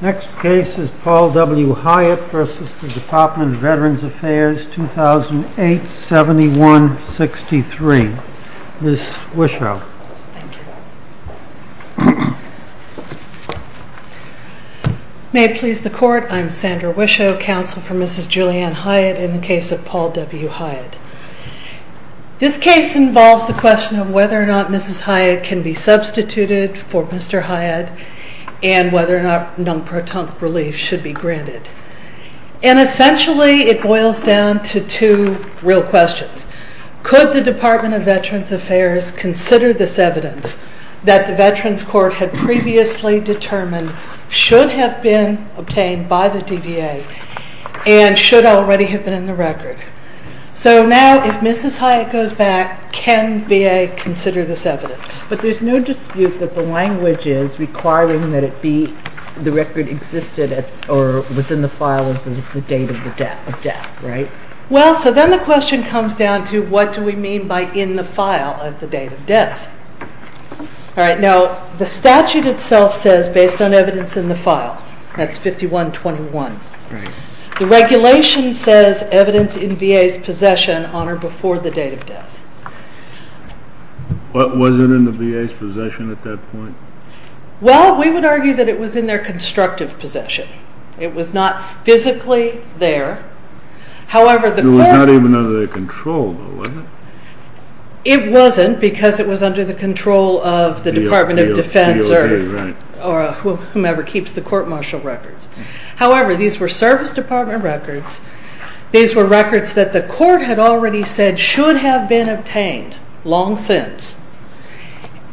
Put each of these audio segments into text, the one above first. Next case is Paul W. Hyatt v. Department of Veterans Affairs, 2008-7163. Ms. Wischow. May it please the Court, I'm Sandra Wischow, counsel for Mrs. Julianne Hyatt in the case of Paul W. Hyatt. This case involves the question of whether or not Mrs. Hyatt can be substituted for Mr. Hyatt and whether or not non-proton relief should be granted. And essentially it boils down to two real questions. Could the Department of Veterans Affairs consider this evidence that the Veterans Court had previously determined should have been obtained by the DVA and should already have been in the record? So now if Mrs. Hyatt goes back, can VA consider this evidence? But there's no dispute that the language is requiring that it be the record existed or was in the file at the date of death, right? Well, so then the question comes down to what do we mean by in the file at the date of death? All right, now the statute itself says based on evidence in the file. That's 5121. The regulation says evidence in VA's possession on or before the date of death. Was it in the VA's possession at that point? Well, we would argue that it was in their constructive possession. It was not physically there. It was not even under their control, though, was it? It wasn't because it was under the control of the Department of Defense or whomever keeps the court martial records. However, these were Service Department records. These were records that the court had already said should have been obtained long since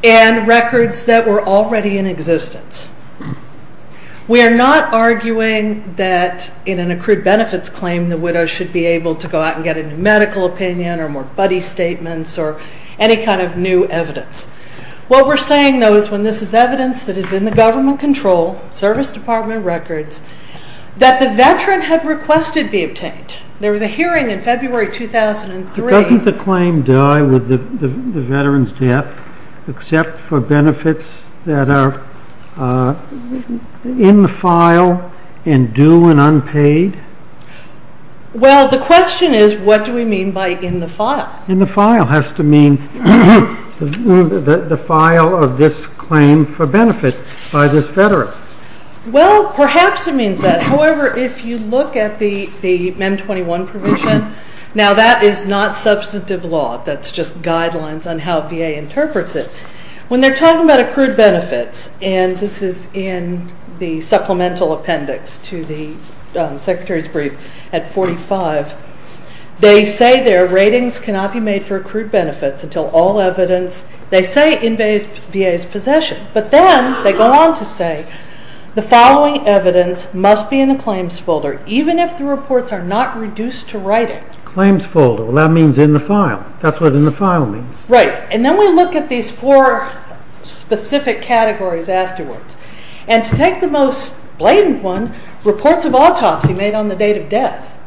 and records that were already in existence. We are not arguing that in an accrued benefits claim the widow should be able to go out and get a new medical opinion or more buddy statements or any kind of new evidence. What we're saying, though, is when this is evidence that is in the government control, Service Department records, that the veteran had requested be obtained. There was a hearing in February 2003. Doesn't the claim die with the veteran's death except for benefits that are in the file and due and unpaid? Well, the question is what do we mean by in the file? And the file has to mean the file of this claim for benefits by this veteran. Well, perhaps it means that. However, if you look at the MEM 21 provision, now that is not substantive law. That's just guidelines on how VA interprets it. When they're talking about accrued benefits, and this is in the supplemental appendix to the Secretary's brief at 45, they say their ratings cannot be made for accrued benefits until all evidence, they say, invades VA's possession. But then they go on to say the following evidence must be in the claims folder even if the reports are not reduced to writing. Claims folder. Well, that means in the file. That's what in the file means. Right. And then we look at these four specific categories afterwards. And to take the most blatant one, reports of autopsy made on the date of death.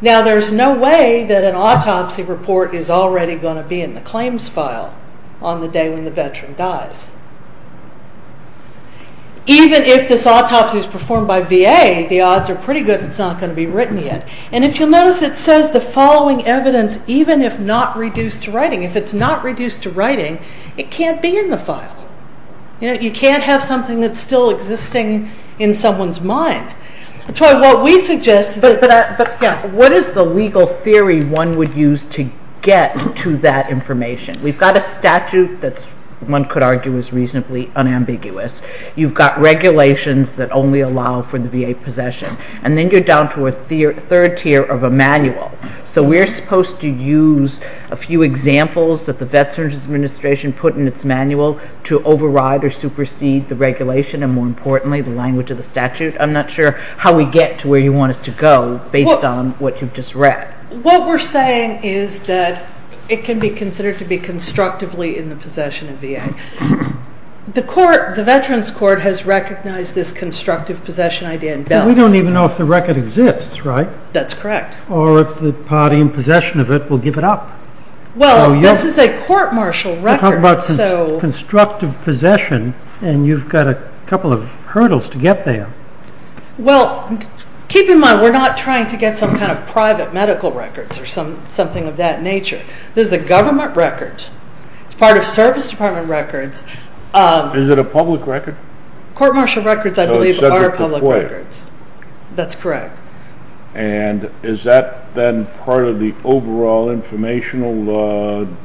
Now, there's no way that an autopsy report is already going to be in the claims file on the day when the veteran dies. Even if this autopsy is performed by VA, the odds are pretty good it's not going to be written yet. And if you'll notice, it says the following evidence even if not reduced to writing. If it's not reduced to writing, it can't be in the file. You can't have something that's still existing in someone's mind. That's why what we suggest. But what is the legal theory one would use to get to that information? We've got a statute that one could argue is reasonably unambiguous. You've got regulations that only allow for the VA possession. And then you're down to a third tier of a manual. So we're supposed to use a few examples that the Veterans Administration put in its manual to override or supersede the regulation and more importantly the language of the statute. I'm not sure how we get to where you want us to go based on what you've just read. What we're saying is that it can be considered to be constructively in the possession of VA. The Veterans Court has recognized this constructive possession idea in Bill. We don't even know if the record exists, right? That's correct. Or if the party in possession of it will give it up. Well, this is a court-martial record. We're talking about constructive possession and you've got a couple of hurdles to get there. Well, keep in mind we're not trying to get some kind of private medical records or something of that nature. This is a government record. It's part of service department records. Is it a public record? Court-martial records, I believe, are public records. So it's subject to FOIA. That's correct. And is that then part of the overall informational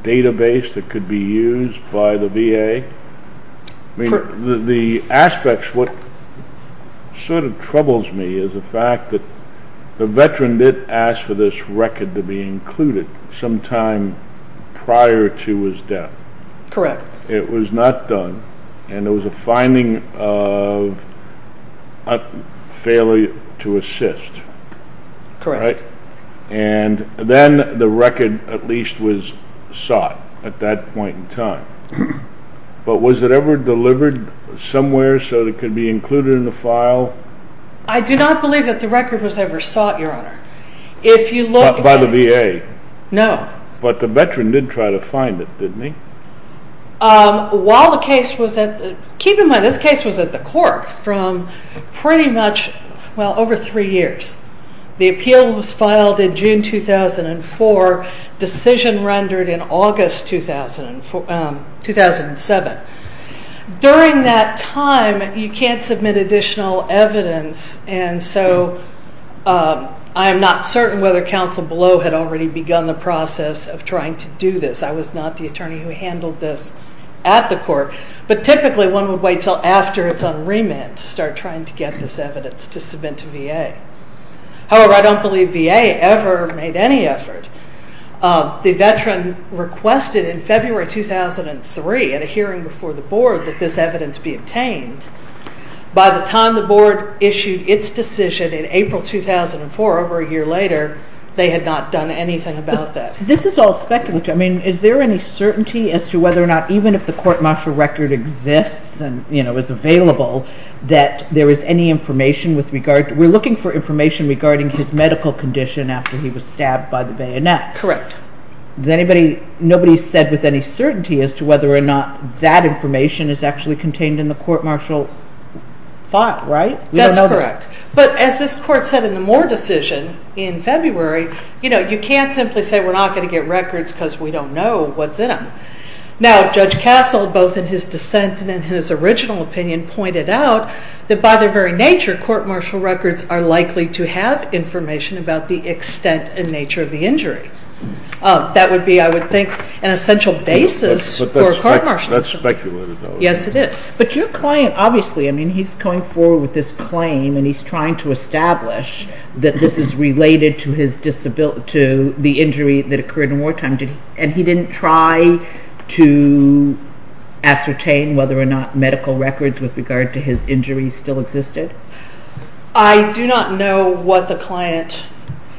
database that could be used by the VA? The aspects, what sort of troubles me is the fact that the veteran did ask for this record to be included sometime prior to his death. Correct. It was not done and it was a finding of failure to assist. Correct. And then the record at least was sought at that point in time. But was it ever delivered somewhere so it could be included in the file? I do not believe that the record was ever sought, Your Honor. By the VA? No. But the veteran did try to find it, didn't he? Keep in mind, this case was at the court from pretty much over three years. The appeal was filed in June 2004, decision rendered in August 2007. During that time, you can't submit additional evidence, and so I am not certain whether counsel below had already begun the process of trying to do this. I was not the attorney who handled this at the court. But typically one would wait until after it's on remand to start trying to get this evidence to submit to VA. However, I don't believe VA ever made any effort. The veteran requested in February 2003 at a hearing before the Board that this evidence be obtained. By the time the Board issued its decision in April 2004, over a year later, they had not done anything about that. This is all speculative. I mean, is there any certainty as to whether or not even if the court-martial record exists and, you know, is available, that there is any information with regard to it? We're looking for information regarding his medical condition after he was stabbed by the bayonet. Correct. Nobody said with any certainty as to whether or not that information is actually contained in the court-martial file, right? That's correct. But as this Court said in the Moore decision in February, you know, you can't simply say we're not going to get records because we don't know what's in them. Now, Judge Castle, both in his dissent and in his original opinion, pointed out that by their very nature court-martial records are likely to have information about the extent and nature of the injury. That would be, I would think, an essential basis for a court-martial. But that's speculative, though. Yes, it is. But your client, obviously, I mean, he's going forward with this claim and he's trying to establish that this is related to the injury that occurred in wartime. And he didn't try to ascertain whether or not medical records with regard to his injury still existed? I do not know what the client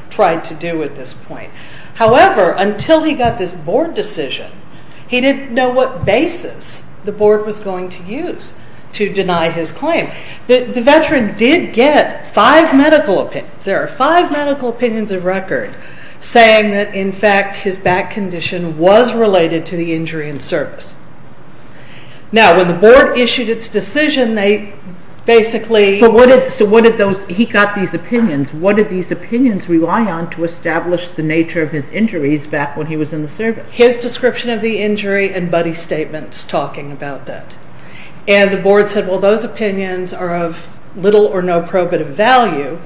tried to do at this point. However, until he got this Board decision, he didn't know what basis the Board was going to use to deny his claim. The veteran did get five medical opinions. There are five medical opinions of record saying that, in fact, his back condition was related to the injury in service. Now, when the Board issued its decision, they basically... He got these opinions. What did these opinions rely on to establish the nature of his injuries back when he was in the service? His description of the injury and buddy statements talking about that. And the Board said, well, those opinions are of little or no probative value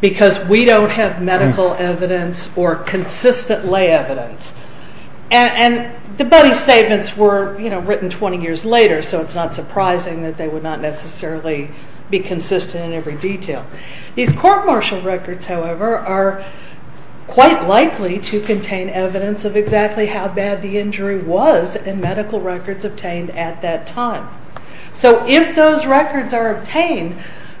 because we don't have medical evidence or consistent lay evidence. And the buddy statements were written 20 years later, so it's not surprising that they would not necessarily be consistent in every detail. These court-martial records, however, are quite likely to contain evidence of exactly how bad the injury was in medical records obtained at that time. So if those records are obtained,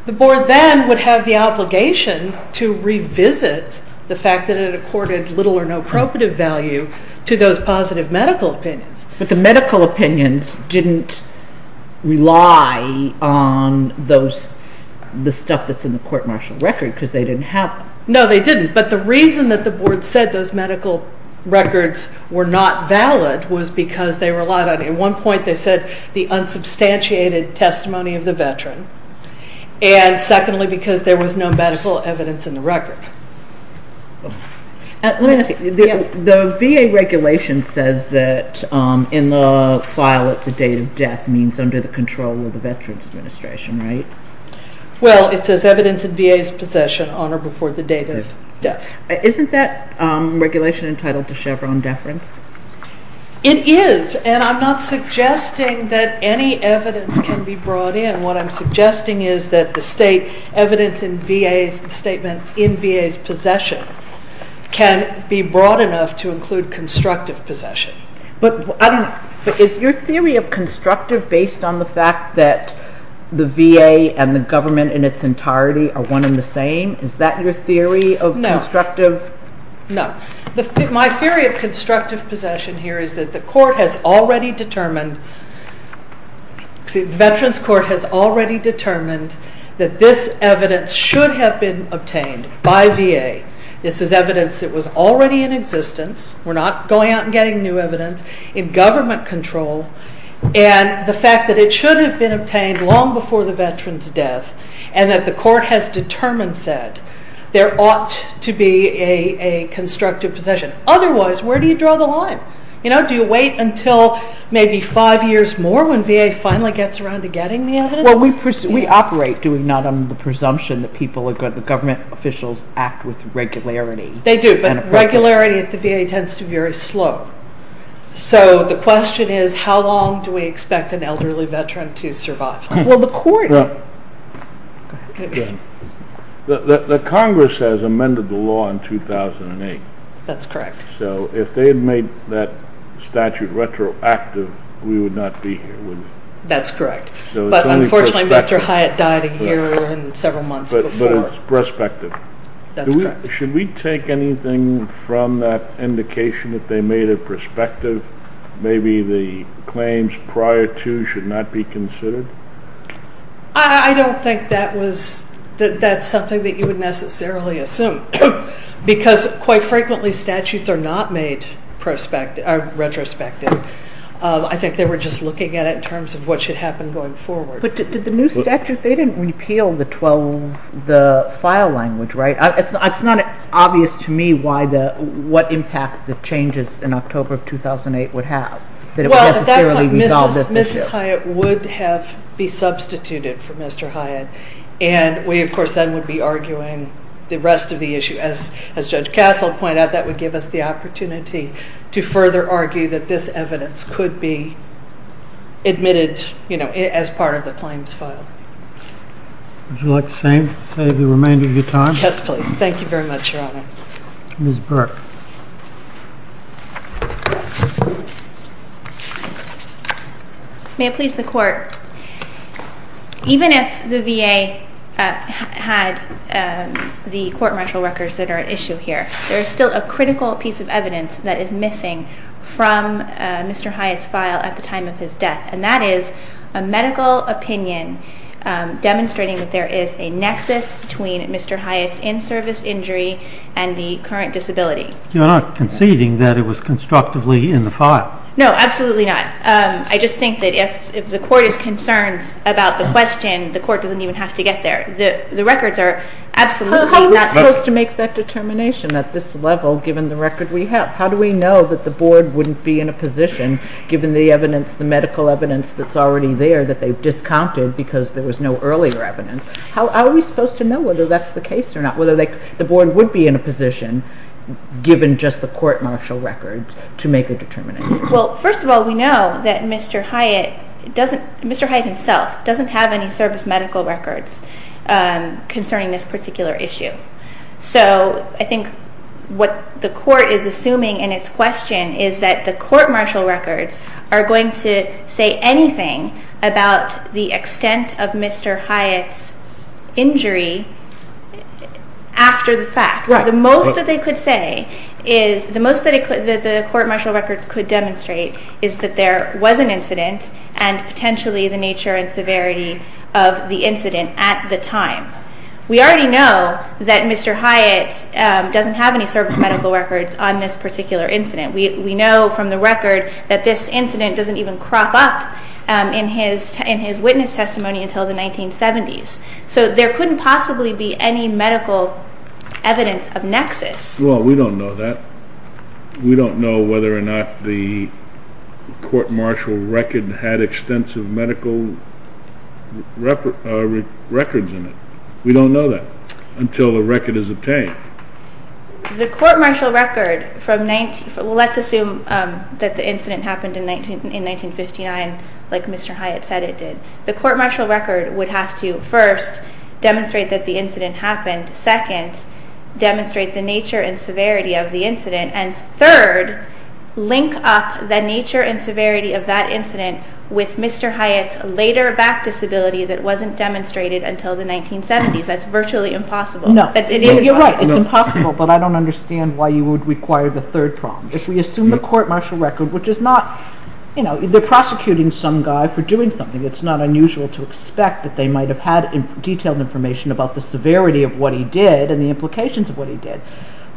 the Board then would have the obligation to revisit the fact that it accorded little or no probative value to those positive medical opinions. But the medical opinions didn't rely on the stuff that's in the court-martial record because they didn't have... No, they didn't. But the reason that the Board said those medical records were not valid was because they relied on... At one point, they said the unsubstantiated testimony of the veteran and, secondly, because there was no medical evidence in the record. Let me ask you, the VA regulation says that in the file at the date of death means under the control of the Veterans Administration, right? Well, it says evidence in VA's possession on or before the date of death. Isn't that regulation entitled to Chevron deference? It is, and I'm not suggesting that any evidence can be brought in. What I'm suggesting is that the state evidence in VA's statement in VA's possession can be brought enough to include constructive possession. But is your theory of constructive based on the fact that the VA and the government in its entirety are one and the same? Is that your theory of constructive? No. My theory of constructive possession here is that the court has already determined... that this evidence should have been obtained by VA. This is evidence that was already in existence. We're not going out and getting new evidence. In government control, and the fact that it should have been obtained long before the veteran's death and that the court has determined that, there ought to be a constructive possession. Otherwise, where do you draw the line? Do you wait until maybe five years more when VA finally gets around to getting the evidence? Well, we operate, do we not, on the presumption that the government officials act with regularity? They do, but regularity at the VA tends to be very slow. So the question is, how long do we expect an elderly veteran to survive? Well, the court... The Congress has amended the law in 2008. That's correct. So if they had made that statute retroactive, we would not be here, would we? That's correct. But unfortunately, Mr. Hyatt died a year and several months before. But it's prospective. That's correct. Should we take anything from that indication that they made it prospective? Maybe the claims prior to should not be considered? I don't think that's something that you would necessarily assume because quite frequently statutes are not made retrospective. I think they were just looking at it in terms of what should happen going forward. But did the new statute, they didn't repeal the file language, right? It's not obvious to me what impact the changes in October of 2008 would have. Well, at that point, Mrs. Hyatt would have been substituted for Mr. Hyatt, and we, of course, then would be arguing the rest of the issue. As Judge Castle pointed out, that would give us the opportunity to further argue that this evidence could be admitted as part of the claims file. Would you like to save the remainder of your time? Yes, please. Thank you very much, Your Honor. Ms. Burke. May it please the Court. Even if the VA had the court martial records that are at issue here, there is still a critical piece of evidence that is missing from Mr. Hyatt's file at the time of his death, and that is a medical opinion demonstrating that there is a nexus between Mr. Hyatt's in-service injury and the current disability. You're not conceding that it was constructively in the file? No, absolutely not. I just think that if the Court is concerned about the question, the Court doesn't even have to get there. The records are absolutely not there. How are we supposed to make that determination at this level, given the record we have? How do we know that the Board wouldn't be in a position, given the evidence, the medical evidence that's already there, that they've discounted because there was no earlier evidence? How are we supposed to know whether that's the case or not, whether the Board would be in a position, given just the court martial records, to make a determination? Well, first of all, we know that Mr. Hyatt himself doesn't have any service medical records concerning this particular issue. So I think what the Court is assuming in its question is that the court martial records are going to say anything about the extent of Mr. Hyatt's injury after the fact. The most that the Court martial records could demonstrate is that there was an incident and potentially the nature and severity of the incident at the time. We already know that Mr. Hyatt doesn't have any service medical records on this particular incident. We know from the record that this incident doesn't even crop up in his witness testimony until the 1970s. So there couldn't possibly be any medical evidence of nexus. Well, we don't know that. We don't know whether or not the court martial record had extensive medical records in it. We don't know that until the record is obtained. The court martial record from 19—well, let's assume that the incident happened in 1959, like Mr. Hyatt said it did. The court martial record would have to first demonstrate that the incident happened, second, demonstrate the nature and severity of the incident, and third, link up the nature and severity of that incident with Mr. Hyatt's later back disability that wasn't demonstrated until the 1970s. That's virtually impossible. You're right, it's impossible, but I don't understand why you would require the third problem. If we assume the court martial record, which is not— they're prosecuting some guy for doing something. It's not unusual to expect that they might have had detailed information about the severity of what he did and the implications of what he did,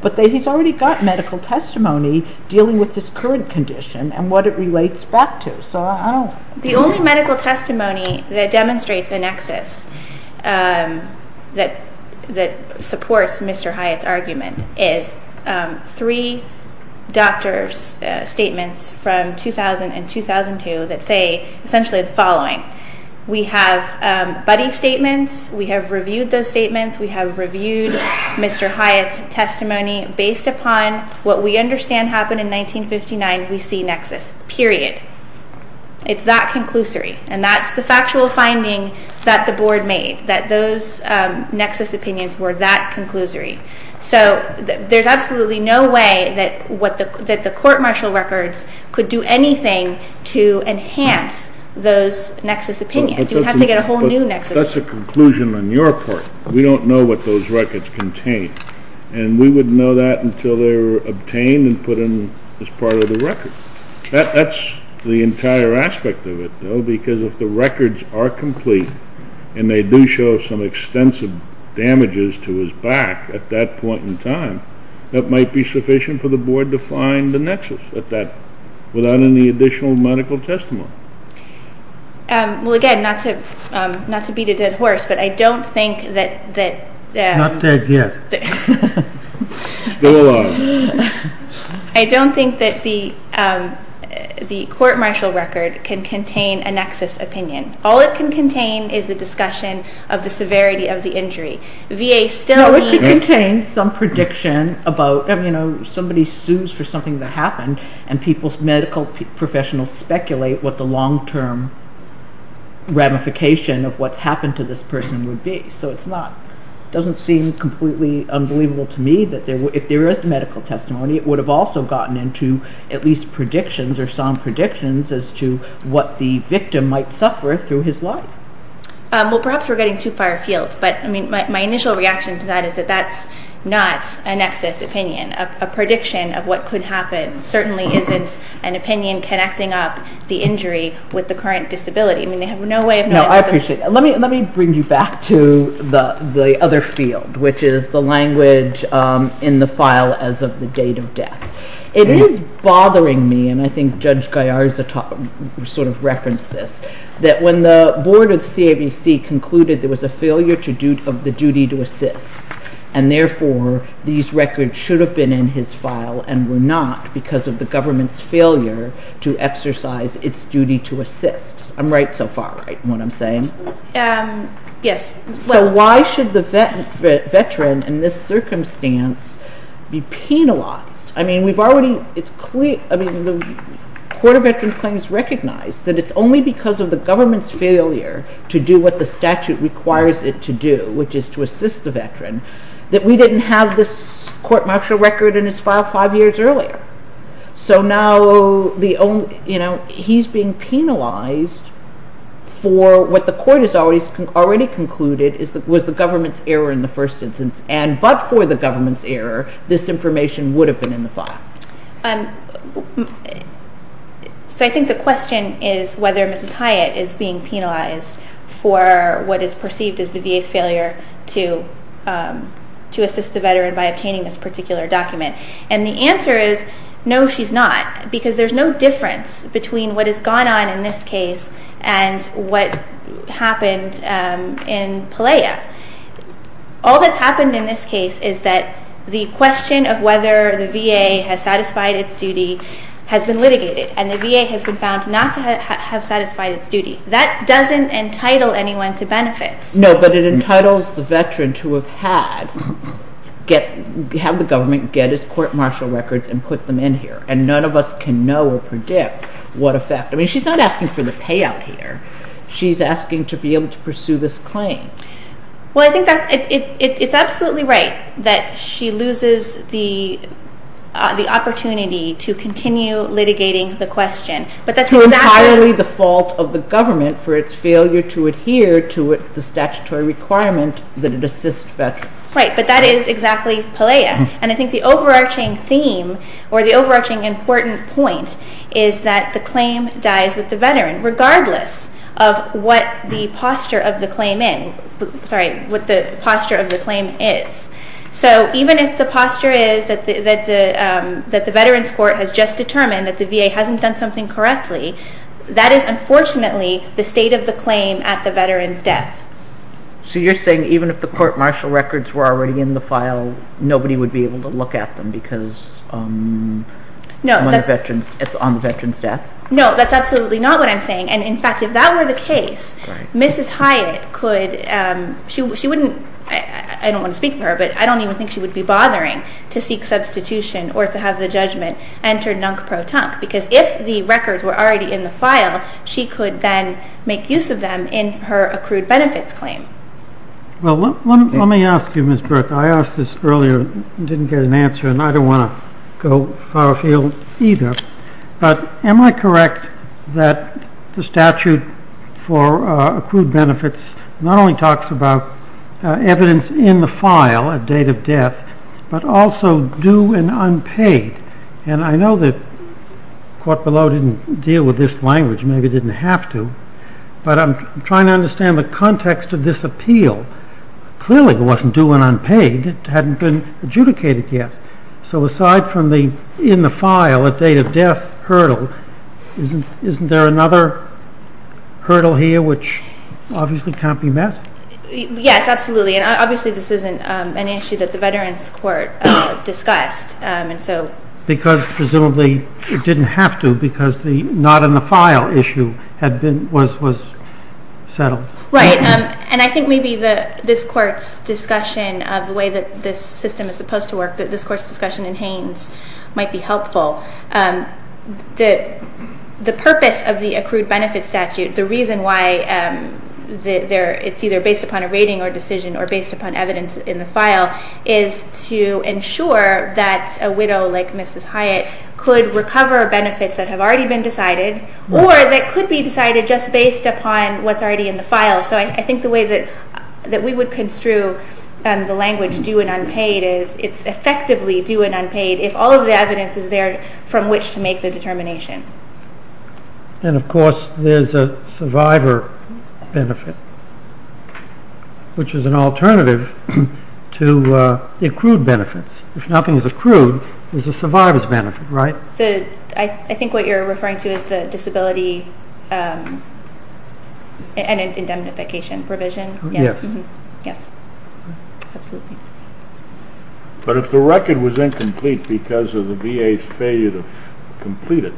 but he's already got medical testimony dealing with his current condition and what it relates back to. The only medical testimony that demonstrates a nexus that supports Mr. Hyatt's argument is three doctor's statements from 2000 and 2002 that say essentially the following. We have buddy statements. We have reviewed those statements. We have reviewed Mr. Hyatt's testimony. Based upon what we understand happened in 1959, we see nexus, period. It's that conclusory, and that's the factual finding that the board made, that those nexus opinions were that conclusory. So there's absolutely no way that the court martial records could do anything to enhance those nexus opinions. You'd have to get a whole new nexus. That's a conclusion on your part. We don't know what those records contain, and we wouldn't know that until they were obtained and put in as part of the record. That's the entire aspect of it, though, because if the records are complete and they do show some extensive damages to his back at that point in time, that might be sufficient for the board to find the nexus without any additional medical testimony. Well, again, not to beat a dead horse, but I don't think that the court martial record can contain a nexus opinion. All it can contain is a discussion of the severity of the injury. VA still needs- No, it contains some prediction about somebody sues for something that happened, and medical professionals speculate what the long-term ramification of what's happened to this person would be. So it doesn't seem completely unbelievable to me that if there is medical testimony, it would have also gotten into at least predictions or some predictions as to what the victim might suffer through his life. Well, perhaps we're getting too far afield, but my initial reaction to that is that that's not a nexus opinion. A prediction of what could happen certainly isn't an opinion connecting up the injury with the current disability. I mean, they have no way of knowing- No, I appreciate that. Let me bring you back to the other field, which is the language in the file as of the date of death. It is bothering me, and I think Judge Gallarza sort of referenced this, that when the board of CABC concluded there was a failure of the duty to assist, and therefore these records should have been in his file and were not because of the government's failure to exercise its duty to assist. I'm right so far, right, in what I'm saying? Yes. So why should the veteran in this circumstance be penalized? I mean, the Court of Veterans Claims recognized that it's only because of the government's failure to do what the statute requires it to do, which is to assist the veteran, that we didn't have this court-martial record in his file five years earlier. So now he's being penalized for what the court has already concluded was the government's error in the first instance, and but for the government's error, this information would have been in the file. So I think the question is whether Mrs. Hyatt is being penalized for what is perceived as the VA's failure to assist the veteran by obtaining this particular document. And the answer is no, she's not, because there's no difference between what has gone on in this case and what happened in Pelea. All that's happened in this case is that the question of whether the VA has satisfied its duty has been litigated, and the VA has been found not to have satisfied its duty. That doesn't entitle anyone to benefits. No, but it entitles the veteran to have the government get his court-martial records and put them in here, and none of us can know or predict what effect. I mean, she's not asking for the payout here. She's asking to be able to pursue this claim. Well, I think it's absolutely right that she loses the opportunity to continue litigating the question. It's entirely the fault of the government for its failure to adhere to the statutory requirement that it assist veterans. Right, but that is exactly Pelea. And I think the overarching theme or the overarching important point is that the claim dies with the veteran, regardless of what the posture of the claim is. So even if the posture is that the veterans' court has just determined that the VA hasn't done something correctly, that is unfortunately the state of the claim at the veteran's death. So you're saying even if the court-martial records were already in the file, nobody would be able to look at them because it's on the veteran's death? Right, and in fact, if that were the case, Mrs. Hyatt could, she wouldn't, I don't want to speak for her, but I don't even think she would be bothering to seek substitution or to have the judgment enter nunk-pro-tunk, because if the records were already in the file, she could then make use of them in her accrued benefits claim. Well, let me ask you, Ms. Burke. I asked this earlier and didn't get an answer, and I don't want to go far afield either. But am I correct that the statute for accrued benefits not only talks about evidence in the file at date of death, but also due and unpaid? And I know that the court below didn't deal with this language, maybe didn't have to, but I'm trying to understand the context of this appeal. Clearly it wasn't due and unpaid. It hadn't been adjudicated yet. So aside from the in the file at date of death hurdle, isn't there another hurdle here which obviously can't be met? Yes, absolutely, and obviously this isn't an issue that the Veterans Court discussed. Because presumably it didn't have to because the not in the file issue was settled. Right, and I think maybe this court's discussion of the way that this system is supposed to work, that this court's discussion in Haines might be helpful. The purpose of the accrued benefits statute, the reason why it's either based upon a rating or decision or based upon evidence in the file is to ensure that a widow like Mrs. Hyatt could recover benefits that have already been decided or that could be decided just based upon what's already in the file. So I think the way that we would construe the language due and unpaid is it's effectively due and unpaid if all of the evidence is there from which to make the determination. And of course there's a survivor benefit, which is an alternative to accrued benefits. If nothing is accrued, there's a survivor's benefit, right? I think what you're referring to is the disability and indemnification provision? Yes. Yes, absolutely. But if the record was incomplete because of the VA's failure to complete it,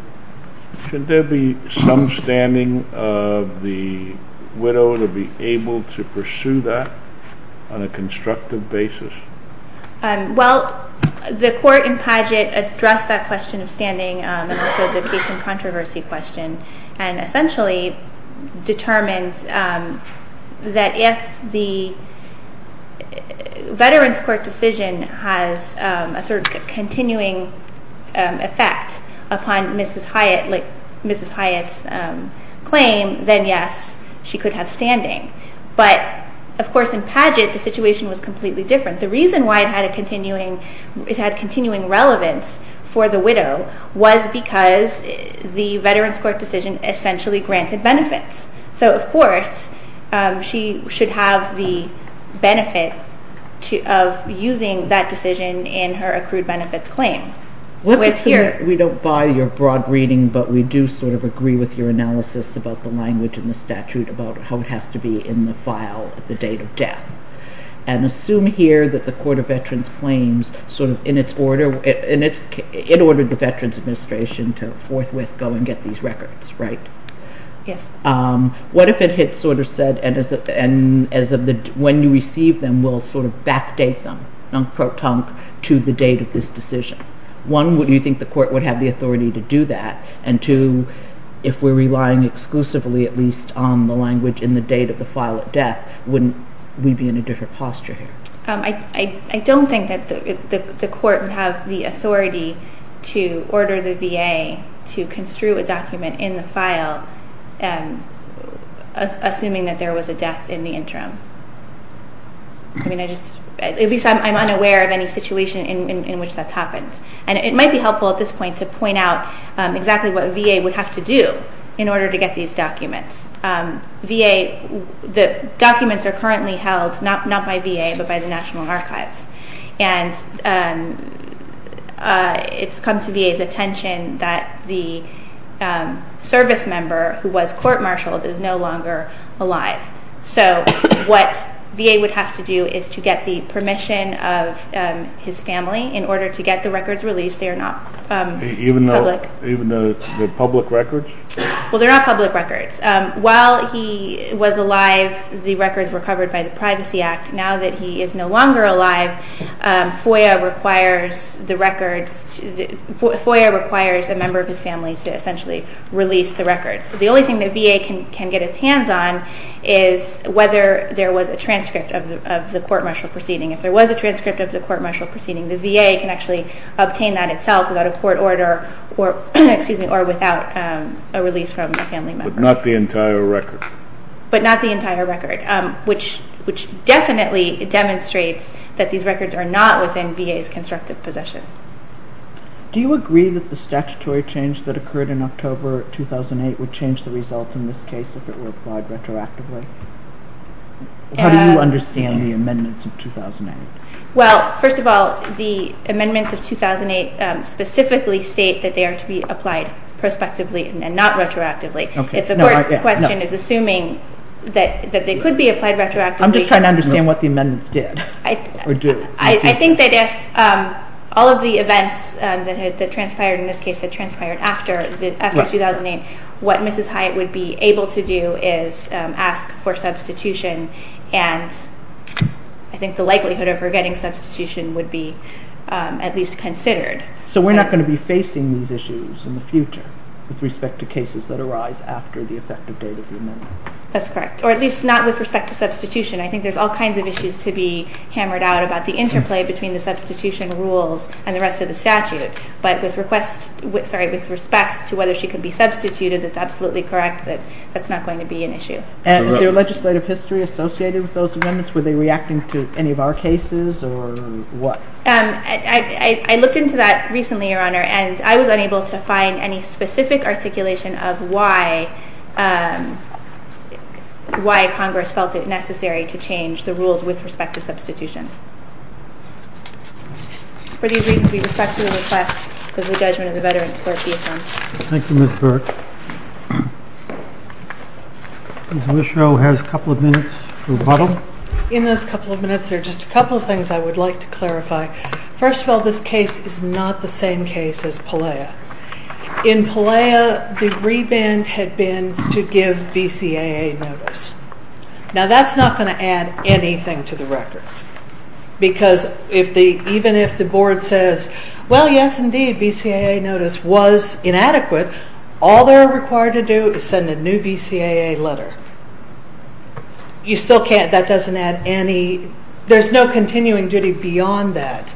should there be some standing of the widow to be able to pursue that on a constructive basis? Well, the court in Padgett addressed that question of standing and also the case in controversy question and essentially determines that if the Veterans Court decision has a sort of continuing effect upon Mrs. Hyatt's claim, then yes, she could have standing. But of course in Padgett, the situation was completely different. The reason why it had a continuing relevance for the widow was because the Veterans Court decision essentially granted benefits. So of course she should have the benefit of using that decision in her accrued benefits claim. We don't buy your broad reading, but we do sort of agree with your analysis about the language in the statute, about how it has to be in the file at the date of death. And assume here that the Court of Veterans Claims, sort of in its order, it ordered the Veterans Administration to forthwith go and get these records, right? Yes. What if it had sort of said, and when you receive them, we'll sort of backdate them, non-crotonc, to the date of this decision? One, would you think the court would have the authority to do that? And two, if we're relying exclusively at least on the language in the date of the file at death, wouldn't we be in a different posture here? I don't think that the court would have the authority to order the VA to construe a document in the file assuming that there was a death in the interim. I mean I just, at least I'm unaware of any situation in which that's happened. And it might be helpful at this point to point out exactly what VA would have to do in order to get these documents. VA, the documents are currently held not by VA but by the National Archives. And it's come to VA's attention that the service member who was court-martialed is no longer alive. So what VA would have to do is to get the permission of his family in order to get the records released. They are not public. Even though they're public records? Well, they're not public records. While he was alive, the records were covered by the Privacy Act. Now that he is no longer alive, FOIA requires the records. The only thing that VA can get its hands on is whether there was a transcript of the court-martial proceeding. If there was a transcript of the court-martial proceeding, the VA can actually obtain that itself without a court order or without a release from the family member. But not the entire record? But not the entire record, which definitely demonstrates that these records are not within VA's constructive possession. Do you agree that the statutory change that occurred in October 2008 would change the result in this case if it were applied retroactively? How do you understand the amendments of 2008? Well, first of all, the amendments of 2008 specifically state that they are to be applied prospectively and not retroactively. If the court's question is assuming that they could be applied retroactively. I'm just trying to understand what the amendments did or do. I think that if all of the events that transpired in this case had transpired after 2008, what Mrs. Hyatt would be able to do is ask for substitution, and I think the likelihood of her getting substitution would be at least considered. So we're not going to be facing these issues in the future with respect to cases that arise after the effective date of the amendment? That's correct, or at least not with respect to substitution. I think there's all kinds of issues to be hammered out about the interplay between the substitution rules and the rest of the statute. But with respect to whether she could be substituted, it's absolutely correct that that's not going to be an issue. Is there a legislative history associated with those amendments? Were they reacting to any of our cases, or what? I looked into that recently, Your Honor, and I was unable to find any specific articulation of why Congress felt it necessary to change the rules with respect to substitution. For these reasons, we respectfully request that the judgment of the Veterans Clerk be affirmed. Thank you, Ms. Burke. Ms. Mishra has a couple of minutes to rebuttal. In those couple of minutes, there are just a couple of things I would like to clarify. First of all, this case is not the same case as Pelea. In Pelea, the reband had been to give VCAA notice. Now, that's not going to add anything to the record, because even if the board says, well, yes, indeed, VCAA notice was inadequate, all they're required to do is send a new VCAA letter. You still can't, that doesn't add any, there's no continuing duty beyond that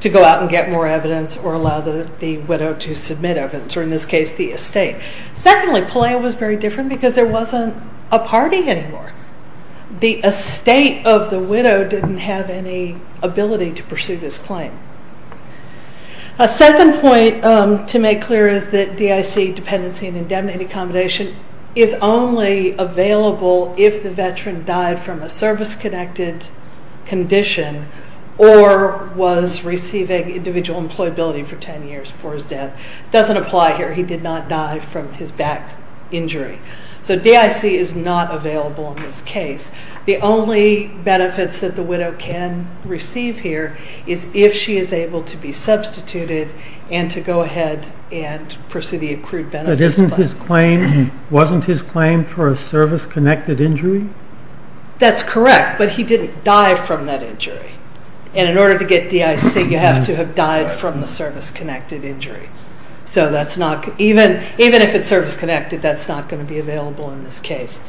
to go out and get more evidence or allow the widow to submit evidence, or in this case, the estate. Secondly, Pelea was very different because there wasn't a party anymore. The estate of the widow didn't have any ability to pursue this claim. A second point to make clear is that DIC dependency and indemnity accommodation is only available if the veteran died from a service-connected condition or was receiving individual employability for 10 years before his death. It doesn't apply here, he did not die from his back injury. So DIC is not available in this case. The only benefits that the widow can receive here is if she is able to be substituted and to go ahead and pursue the accrued benefits claim. But wasn't his claim for a service-connected injury? That's correct, but he didn't die from that injury. And in order to get DIC, you have to have died from the service-connected injury. So that's not, even if it's service-connected, that's not going to be available in this case.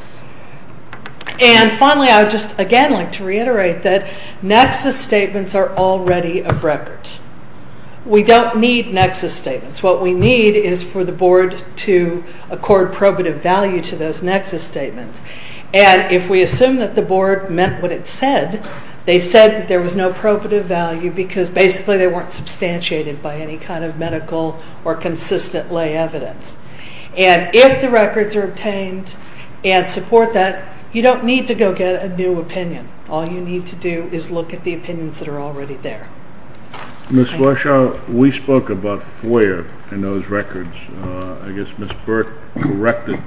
And finally, I would just again like to reiterate that nexus statements are already of record. We don't need nexus statements. What we need is for the board to accord probative value to those nexus statements. And if we assume that the board meant what it said, they said that there was no probative value because basically they weren't substantiated by any kind of medical or consistent lay evidence. And if the records are obtained and support that, you don't need to go get a new opinion. All you need to do is look at the opinions that are already there. Ms. Fleischer, we spoke about FOIA in those records. I guess Ms. Burke corrected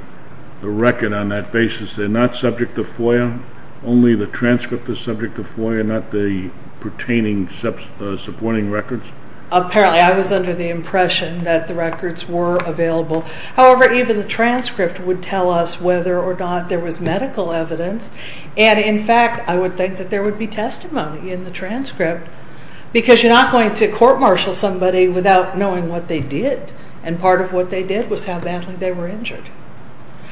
the record on that basis. They're not subject to FOIA? Only the transcript is subject to FOIA, not the pertaining supporting records? Apparently, I was under the impression that the records were available. However, even the transcript would tell us whether or not there was medical evidence. And in fact, I would think that there would be testimony in the transcript because you're not going to court-martial somebody without knowing what they did. And part of what they did was how badly they were injured.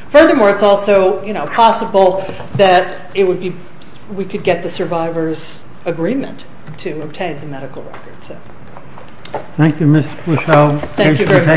Furthermore, it's also possible that we could get the survivors' agreement to obtain the medical records. Thank you, Ms. Fleischer.